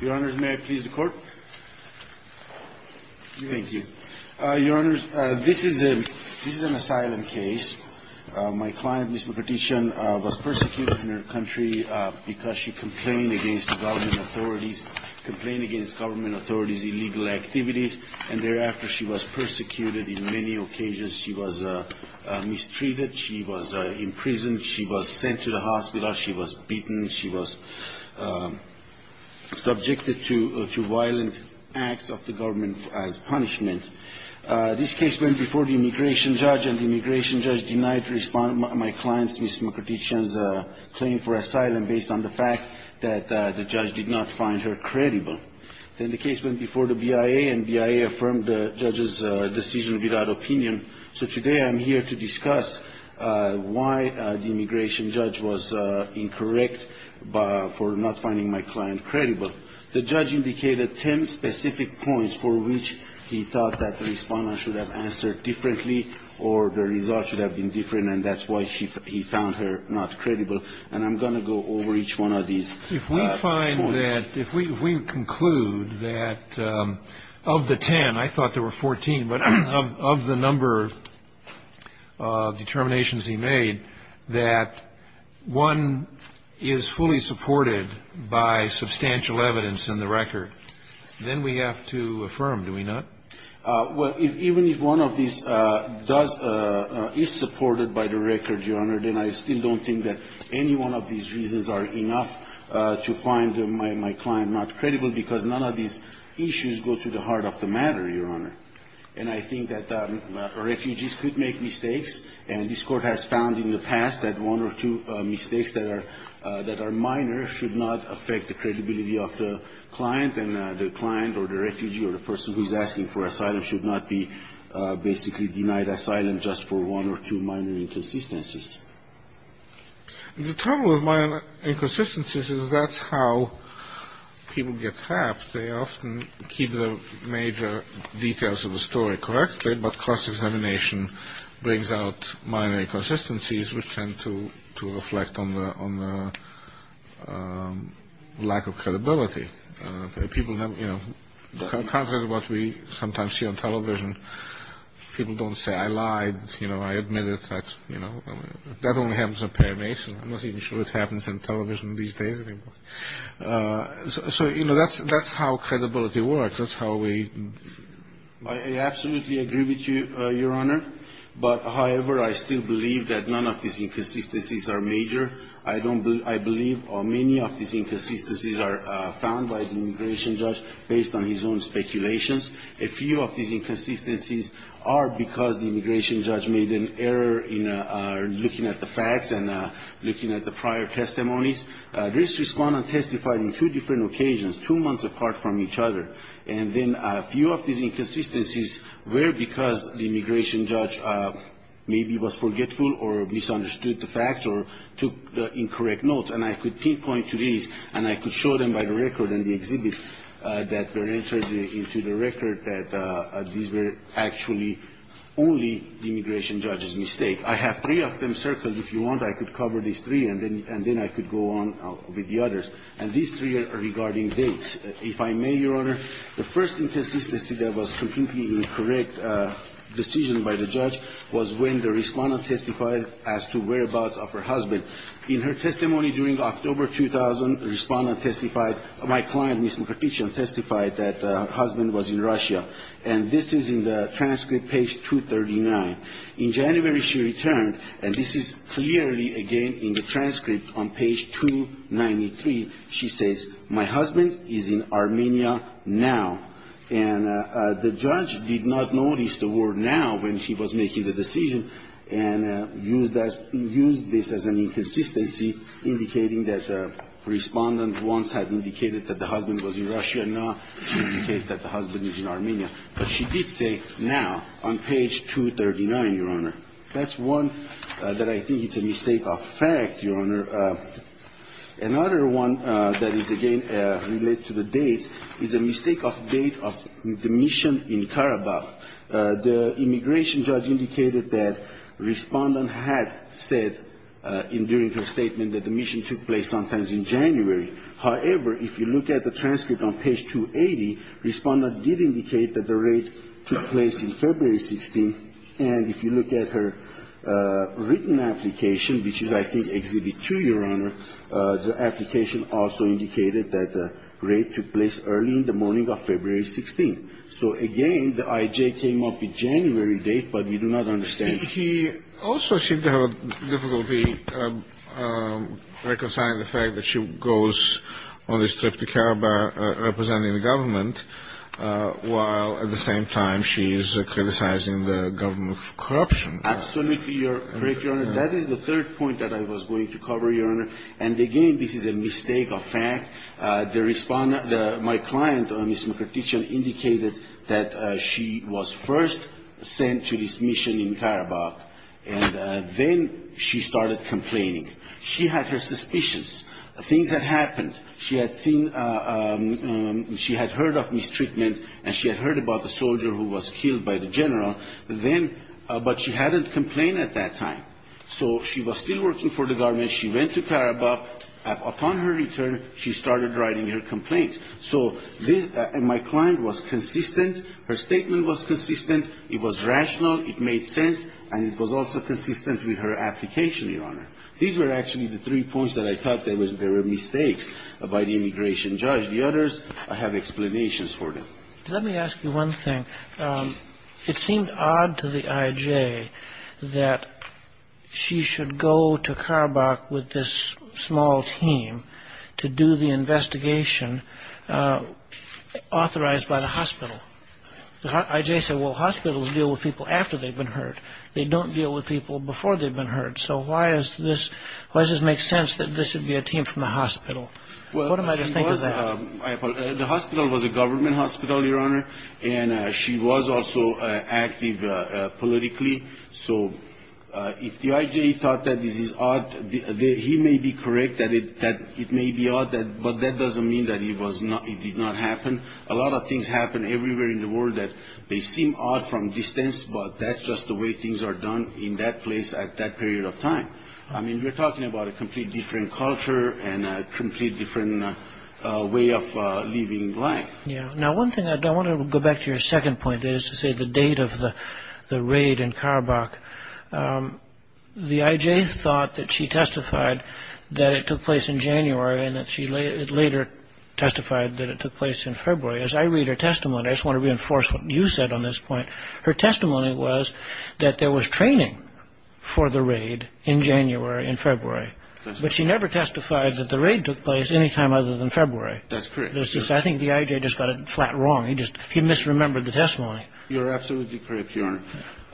Your Honor, may I please the court? Thank you. Your Honor, this is an asylum case. My client, Ms. Mkrtchyan, was persecuted in her country because she complained against government authorities, complained against government authorities' illegal activities, and thereafter she was persecuted in many occasions. She was mistreated, she was imprisoned, she was sent to the hospital, she was beaten, she was subjected to violent acts of the government as punishment. This case went before the immigration judge, and the immigration judge denied my client, Ms. Mkrtchyan's, claim for asylum based on the fact that the judge did not find her credible. Then the case went before the BIA, and the BIA affirmed the judge's decision without opinion. So today I'm here to discuss why the immigration judge was incorrect. The judge indicated ten specific points for which he thought that the respondent should have answered differently, or the result should have been different, and that's why he found her not credible. And I'm going to go over each one of these points. I find that if we conclude that of the ten, I thought there were 14, but of the number of determinations he made, that one is fully supported by substantial evidence in the record, then we have to affirm, do we not? Well, even if one of these does – is supported by the record, Your Honor, then I still don't think that any one of these reasons are enough to find my client not credible, because none of these issues go to the heart of the matter, Your Honor. And I think that refugees could make mistakes, and this Court has found in the past that one or two mistakes that are – that are minor should not affect the credibility of the client, and the client or the refugee or the person who's asking for asylum should not be basically denied asylum just for one or two minor inconsistencies. The trouble with minor inconsistencies is that's how people get trapped. They often keep the major details of the story correctly, but cross-examination brings out minor inconsistencies which tend to reflect on the lack of credibility. People have – you know, contrary to what we sometimes see on television, people don't say, I lied, you know, I admitted that, you know. That only happens in paramation. I'm not even sure it happens in television these days anymore. So, you know, that's – that's how credibility works. That's how we – based on his own speculations. A few of these inconsistencies are because the immigration judge made an error in looking at the facts and looking at the prior testimonies. This respondent testified on two different occasions, two months apart from each other. And then a few of these inconsistencies were because the immigration judge maybe was forgetful or misunderstood the facts or took incorrect notes. And I could pinpoint to these and I could show them by the record and the exhibits that were entered into the record that these were actually only the immigration judge's mistake. I have three of them circled. If you want, I could cover these three, and then I could go on with the others. And these three are regarding dates. If I may, Your Honor, the first inconsistency that was completely incorrect decision by the judge was when the respondent testified as to whereabouts of her husband. In her testimony during October 2000, the respondent testified – my client, Mr. Petitian, testified that her husband was in Russia. And this is in the transcript, page 239. In January, she returned, and this is clearly, again, in the transcript on page 293. She says, my husband is in Armenia now. And the judge did not notice the word now when she was making the decision and used this as an inconsistency, indicating that the respondent once had indicated that the husband was in Russia. Now, she indicates that the husband is in Armenia. But she did say now on page 239, Your Honor. That's one that I think is a mistake of fact, Your Honor. Another one that is, again, related to the dates is a mistake of date of the mission in Karabakh. The immigration judge indicated that respondent had said during her statement that the mission took place sometimes in January. However, if you look at the transcript on page 280, respondent did indicate that the raid took place in February 16th. And if you look at her written application, which is, I think, Exhibit 2, Your Honor, the application also indicated that the raid took place early in the morning of February 16th. So, again, the IJ came up with January date, but we do not understand. He also seemed to have difficulty reconciling the fact that she goes on this trip to Karabakh representing the government, while at the same time she is criticizing the government for corruption. Absolutely, Your Honor. That is the third point that I was going to cover, Your Honor. And, again, this is a mistake of fact. My client, Ms. Mukherjee, indicated that she was first sent to this mission in Karabakh, and then she started complaining. She had her suspicions, things that happened. She had seen, she had heard of mistreatment, and she had heard about the soldier who was killed by the general, but she hadn't complained at that time. So she was still working for the government. When she went to Karabakh, upon her return, she started writing her complaints. So my client was consistent. Her statement was consistent. It was rational. It made sense. And it was also consistent with her application, Your Honor. These were actually the three points that I thought there were mistakes by the immigration judge. The others have explanations for them. Let me ask you one thing. It seemed odd to the I.J. that she should go to Karabakh with this small team to do the investigation authorized by the hospital. The I.J. said, well, hospitals deal with people after they've been hurt. They don't deal with people before they've been hurt. So why does this make sense that this would be a team from a hospital? What am I to think of that? The hospital was a government hospital, Your Honor, and she was also active politically. So if the I.J. thought that this is odd, he may be correct that it may be odd, but that doesn't mean that it did not happen. A lot of things happen everywhere in the world that they seem odd from distance, but that's just the way things are done in that place at that period of time. I mean, we're talking about a completely different culture and a completely different way of living life. Now, one thing I want to go back to your second point is to say the date of the raid in Karabakh. The I.J. thought that she testified that it took place in January and that she later testified that it took place in February. As I read her testimony, I just want to reinforce what you said on this point. Her testimony was that there was training for the raid in January, in February, but she never testified that the raid took place any time other than February. That's correct. I think the I.J. just got it flat wrong. He misremembered the testimony. You're absolutely correct, Your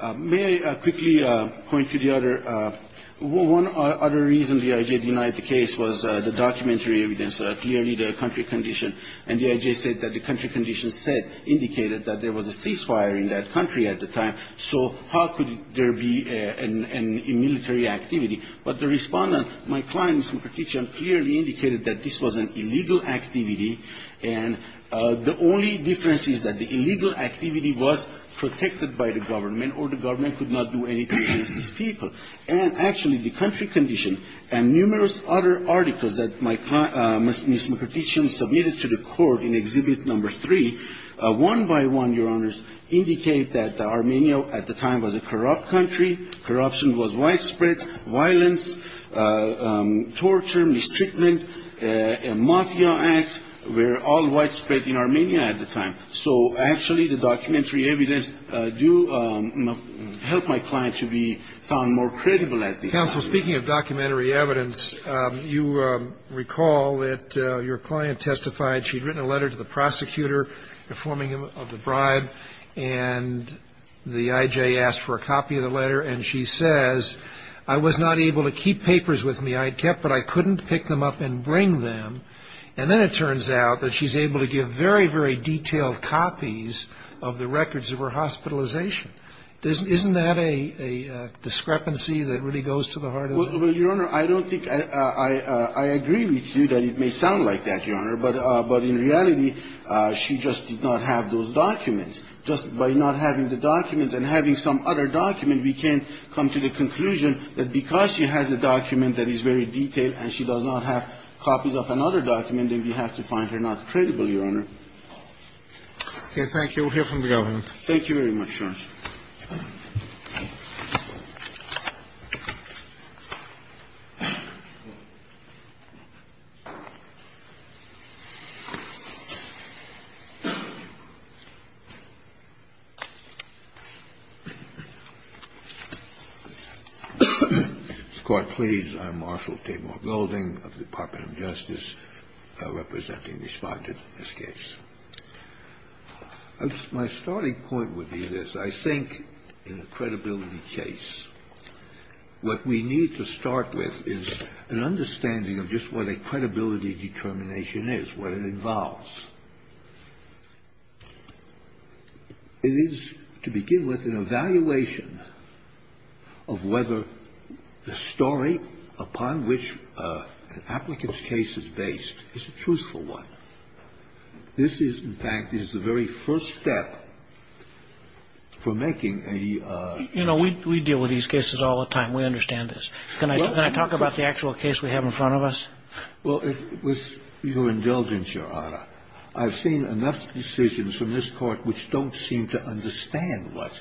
Honor. May I quickly point to the other – one other reason the I.J. denied the case was the documentary evidence. Clearly, the country condition – and the I.J. said that the country condition said – indicated that there was a ceasefire in that country at the time. So how could there be an – a military activity? But the Respondent, my client, Mr. Mukherjee, clearly indicated that this was an illegal activity, and the only difference is that the illegal activity was protected by the government or the government could not do anything against these people. And actually, the country condition and numerous other articles that my client – Ms. Mukherjee submitted to the court in Exhibit No. 3, one by one, Your Honors, indicate that Armenia at the time was a corrupt country. Corruption was widespread. Violence, torture, mistreatment, and mafia acts were all widespread in Armenia at the time. So actually, the documentary evidence do help my client to be found more credible at this point. Counsel, speaking of documentary evidence, you recall that your client testified. She had written a letter to the prosecutor informing him of the bribe, and the I.J. asked for a copy of the letter, and she says, I was not able to keep papers with me I had kept, but I couldn't pick them up and bring them. And then it turns out that she's able to give very, very detailed copies of the records of her hospitalization. Isn't that a discrepancy that really goes to the heart of the case? Well, Your Honor, I don't think – I agree with you that it may sound like that, Your Honor, but in reality, she just did not have those documents. Just by not having the documents and having some other document, we can come to the conclusion that because she has a document that is very detailed and she does not have copies of another document, then we have to find her not credible, Your Honor. Okay. Thank you. We'll hear from the government. Thank you very much, Your Honor. The Court please. I am Marshal Tabor Golding of the Department of Justice, representing the Respondent in this case. My starting point would be this. I think in a credibility case, what we need to start with is an understanding of just what a credibility determination is, what it involves. It is, to begin with, an evaluation of whether the story upon which an applicant's case is based is a truthful one. This is, in fact, is the very first step for making a – You know, we deal with these cases all the time. We understand this. Can I talk about the actual case we have in front of us? Well, with your indulgence, Your Honor, I've seen enough decisions from this Court which don't seem to understand what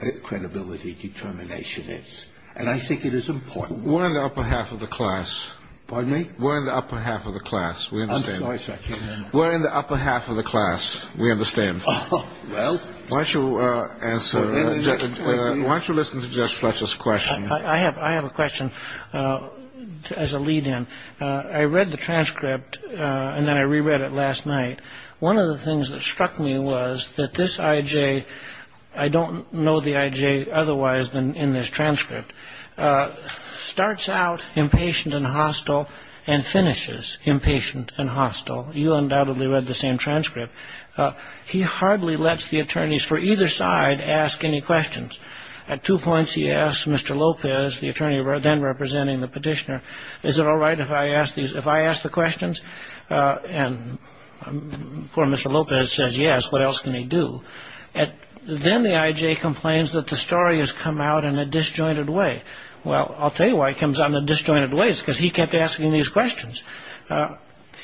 a credibility determination is, and I think it is important. We're in the upper half of the class. Pardon me? We're in the upper half of the class. We understand that. We're in the upper half of the class. We understand. Oh, well. Why don't you answer? Why don't you listen to Judge Fletcher's question? I have a question as a lead-in. I read the transcript, and then I reread it last night. One of the things that struck me was that this I.J. – I don't know the I.J. otherwise than in this transcript – and finishes impatient and hostile. You undoubtedly read the same transcript. He hardly lets the attorneys for either side ask any questions. At two points, he asks Mr. Lopez, the attorney then representing the petitioner, is it all right if I ask the questions? And poor Mr. Lopez says yes. What else can he do? Then the I.J. complains that the story has come out in a disjointed way. Well, I'll tell you why it comes out in a disjointed way. It's because he kept asking these questions.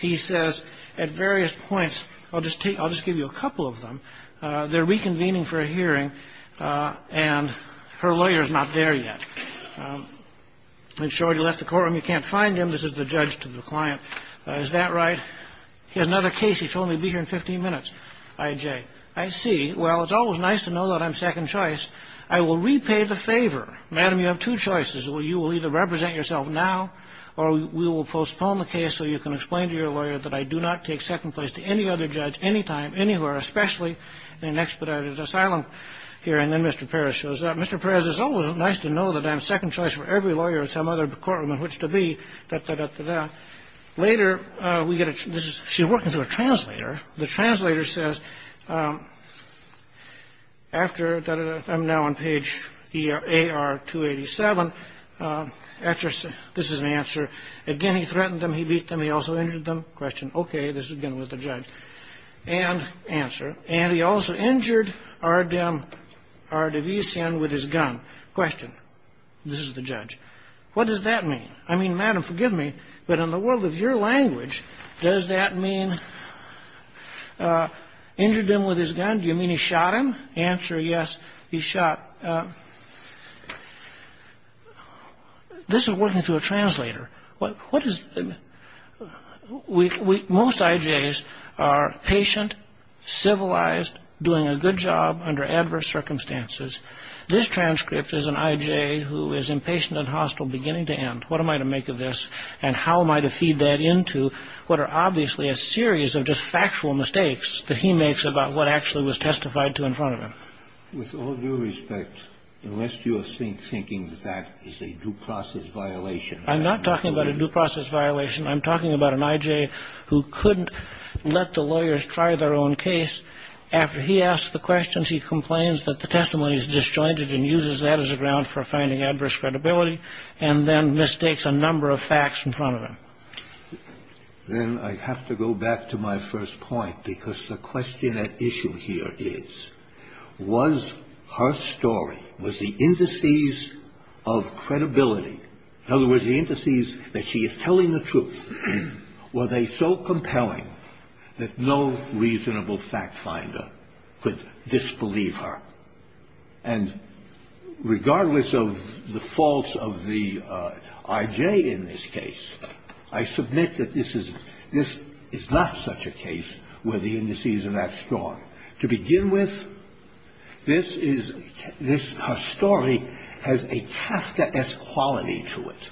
He says at various points – I'll just give you a couple of them – they're reconvening for a hearing, and her lawyer is not there yet. In short, he left the courtroom. You can't find him. This is the judge to the client. Is that right? He has another case. He told me he'd be here in 15 minutes. I.J., I see. Well, it's always nice to know that I'm second choice. I will repay the favor. Madam, you have two choices. You will either represent yourself now or we will postpone the case so you can explain to your lawyer that I do not take second place to any other judge, anytime, anywhere, especially in an expedited asylum hearing. Then Mr. Perez shows up. Mr. Perez, it's always nice to know that I'm second choice for every lawyer in some other courtroom in which to be, da-da-da-da-da. Later, we get a – she's working through a translator. The translator says, after, da-da-da-da-da, I'm now on page AR-287, after – this is an answer. Again, he threatened them. He beat them. He also injured them. Question. Okay. This, again, was the judge. And answer. And he also injured R. Davison with his gun. Question. This is the judge. What does that mean? I mean, Madam, forgive me, but in the world of your language, does that mean that injured him with his gun? Do you mean he shot him? Answer. Yes, he shot. This is working through a translator. What is – most IJs are patient, civilized, doing a good job under adverse circumstances. This transcript is an IJ who is impatient and hostile, beginning to end. What am I to make of this? And how am I to feed that into what are obviously a series of just factual mistakes that he makes about what actually was testified to in front of him? With all due respect, unless you are thinking that that is a due process violation. I'm not talking about a due process violation. I'm talking about an IJ who couldn't let the lawyers try their own case. After he asks the questions, he complains that the testimony is disjointed and uses that as a ground for finding adverse credibility, and then mistakes a number of facts in front of him. Then I have to go back to my first point, because the question at issue here is, was her story, was the indices of credibility, in other words, the indices that she is telling the truth, were they so compelling that no reasonable fact finder could disbelieve her? And regardless of the faults of the IJ in this case, I submit that this is not such a case where the indices are that strong. To begin with, this is her story has a Kafkaesque quality to it,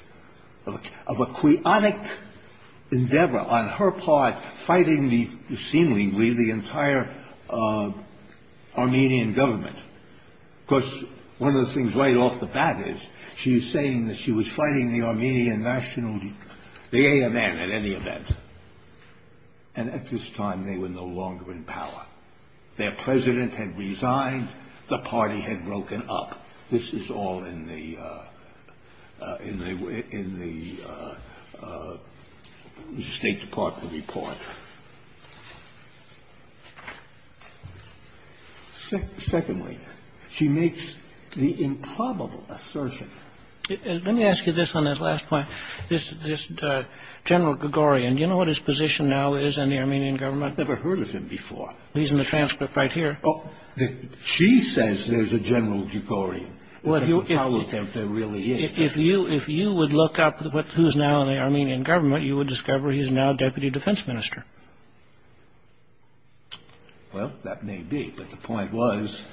of a quionic endeavor on her part fighting seemingly the entire Armenian government. Of course, one of the things right off the bat is, she is saying that she was fighting the Armenian national, the AMN at any event. And at this time, they were no longer in power. Their president had resigned. The party had broken up. This is all in the State Department report. Secondly, she makes the improbable assertion. Let me ask you this on this last point. This General Gregorian, do you know what his position now is in the Armenian government? I've never heard of him before. He's in the transcript right here. She says there's a General Gregorian. If you would look up who's now in the Armenian government, you would discover he's now Deputy Defense Minister. Well, that may be. But the point was,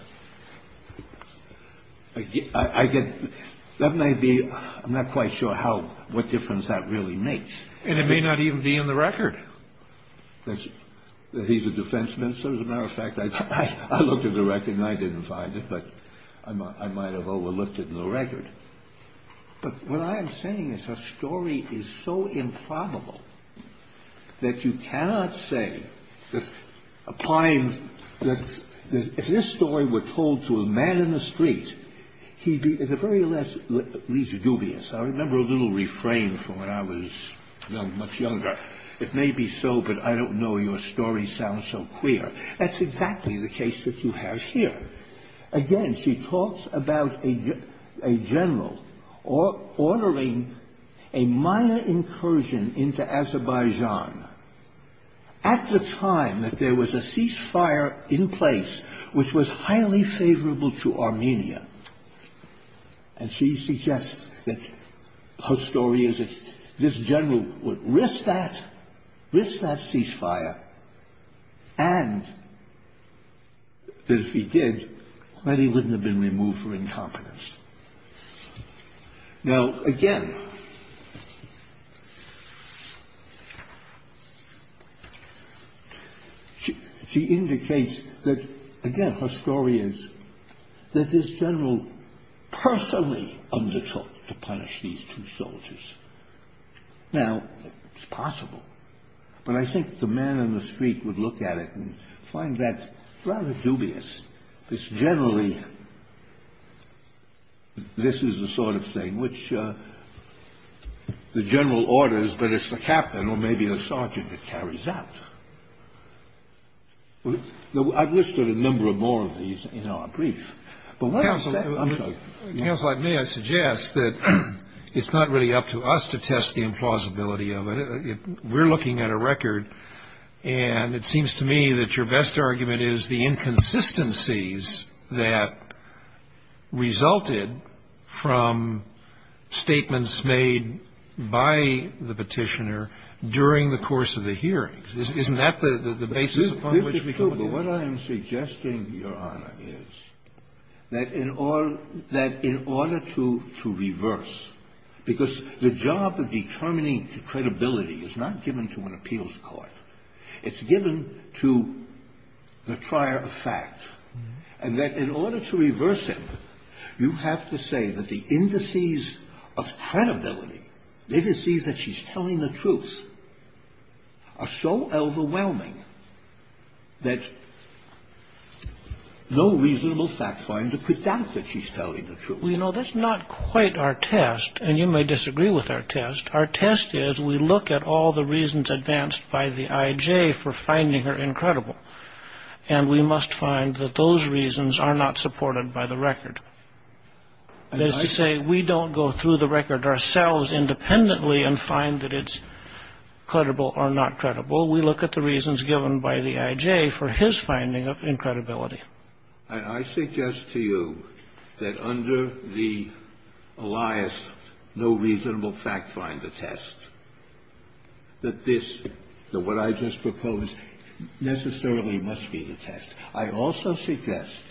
that may be. I'm not quite sure what difference that really makes. And it may not even be in the record. He's a defense minister. As a matter of fact, I looked at the record, and I didn't find it. But I might have overlooked it in the record. But what I am saying is her story is so improbable that you cannot say that applying that if this story were told to a man in the street, he'd be at the very least dubious. I remember a little refrain from when I was much younger. It may be so, but I don't know your story sounds so clear. That's exactly the case that you have here. Again, she talks about a general ordering a Maya incursion into Azerbaijan at the time that there was a ceasefire in place which was highly favorable to Armenia. And she suggests that her story is that this general would risk that, risk that ceasefire, and that if he did, that he wouldn't have been removed for incompetence. Now, again, she indicates that, again, her story is that this general personally undertook to punish these two soldiers. Now, it's possible, but I think the man in the street would look at it and find that rather dubious. It's generally this is the sort of thing which the general orders, but it's the captain or maybe the sergeant that carries out. I've listed a number of more of these in our brief. But what I'm saying, I'm sorry. Kennedy. Counsel, if I may, I suggest that it's not really up to us to test the implausibility of it. We're looking at a record, and it seems to me that your best argument is the inconsistencies that resulted from statements made by the Petitioner during the course of the hearings. Isn't that the basis upon which we come to? Well, what I am suggesting, Your Honor, is that in order to reverse, because the job of determining credibility is not given to an appeals court. It's given to the trier of fact, and that in order to reverse it, you have to say that the indices of credibility, the indices that she's telling the truth, are so overwhelming that no reasonable fact find to put doubt that she's telling the truth. Well, you know, that's not quite our test, and you may disagree with our test. Our test is we look at all the reasons advanced by the I.J. for finding her incredible, and we must find that those reasons are not supported by the record. That is to say, we don't go through the record ourselves independently and find that it's credible or not credible. We look at the reasons given by the I.J. for his finding of incredibility. I suggest to you that under the Elias no reasonable fact find attest that this, that what I just proposed, necessarily must be the test. I also suggest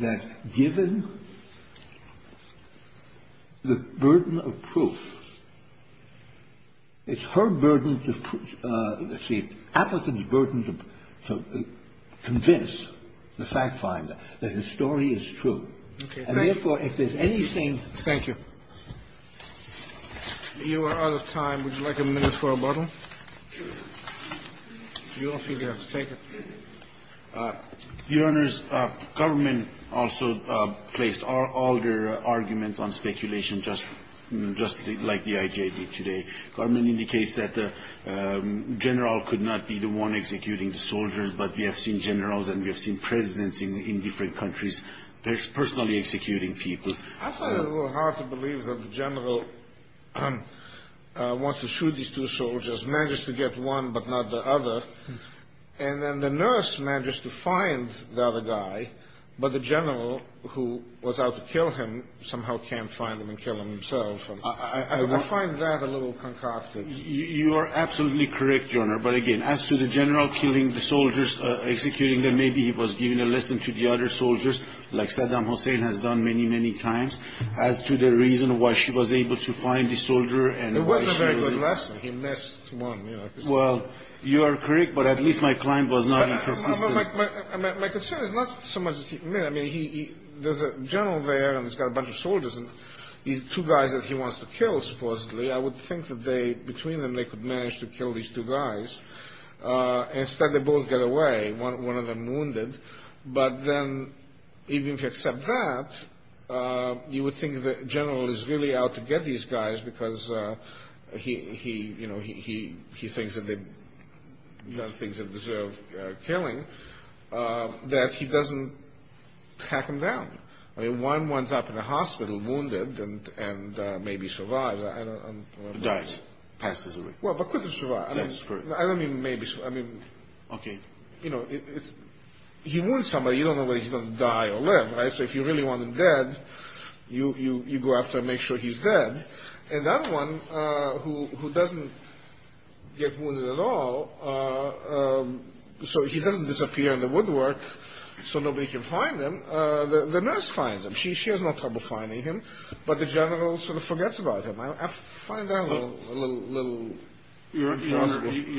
that given the burden of proof, it's her burden to prove the truth and it's the applicant's burden to convince the fact finder that his story is true. And, therefore, if there's anything. Thank you. You are out of time. Would you like a minute for a bottle? You don't feel you have to take it. Your Honors, government also placed all their arguments on speculation just like the I.J. did today. The government indicates that the general could not be the one executing the soldiers, but we have seen generals and we have seen presidents in different countries personally executing people. I find it a little hard to believe that the general wants to shoot these two soldiers, manages to get one but not the other, and then the nurse manages to find the other guy, but the general who was out to kill him somehow can't find him and kill him himself. I find that a little concocted. You are absolutely correct, Your Honor. But, again, as to the general killing the soldiers, executing them, maybe he was giving a lesson to the other soldiers, like Saddam Hussein has done many, many times, as to the reason why she was able to find the soldier and why she was. It wasn't a very good lesson. He missed one, you know. Well, you are correct, but at least my claim was not inconsistent. My concern is not so much that he missed. I mean, there's a general there and he's got a bunch of soldiers and these two guys that he wants to kill, supposedly. I would think that between them they could manage to kill these two guys. Instead, they both get away, one of them wounded. But then even if you accept that, you would think the general is really out to get these guys because he thinks that they deserve killing, that he doesn't tack them down. I mean, one winds up in a hospital wounded and maybe survives. Died, passed away. Well, but couldn't survive. That's correct. I don't mean maybe. Okay. You know, he wounds somebody. You don't know whether he's going to die or live, right? So if you really want him dead, you go after him, make sure he's dead. And that one who doesn't get wounded at all, so he doesn't disappear in the woodwork so nobody can find him, the nurse finds him. She has no trouble finding him, but the general sort of forgets about him. I find that a little impossible. Your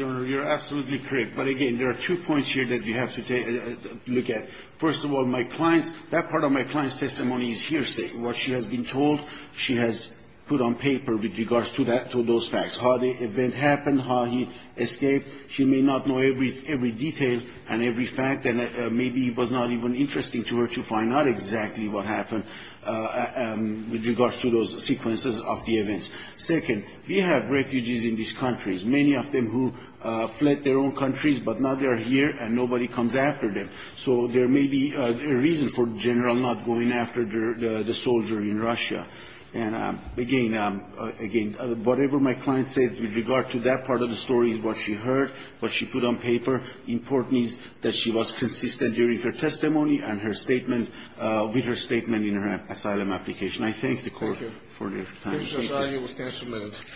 Honor, you're absolutely correct. But, again, there are two points here that we have to look at. First of all, that part of my client's testimony is hearsay. What she has been told she has put on paper with regards to those facts, how the event happened, how he escaped. She may not know every detail and every fact, and maybe it was not even interesting to her to find out exactly what happened with regards to those sequences of the events. Second, we have refugees in these countries, many of them who fled their own countries, but now they are here and nobody comes after them. So there may be a reason for the general not going after the soldier in Russia. And, again, whatever my client says with regard to that part of the story, what she heard, what she put on paper, important is that she was consistent during her testimony and her statement with her statement in her asylum application. I thank the Court for your time. Thank you.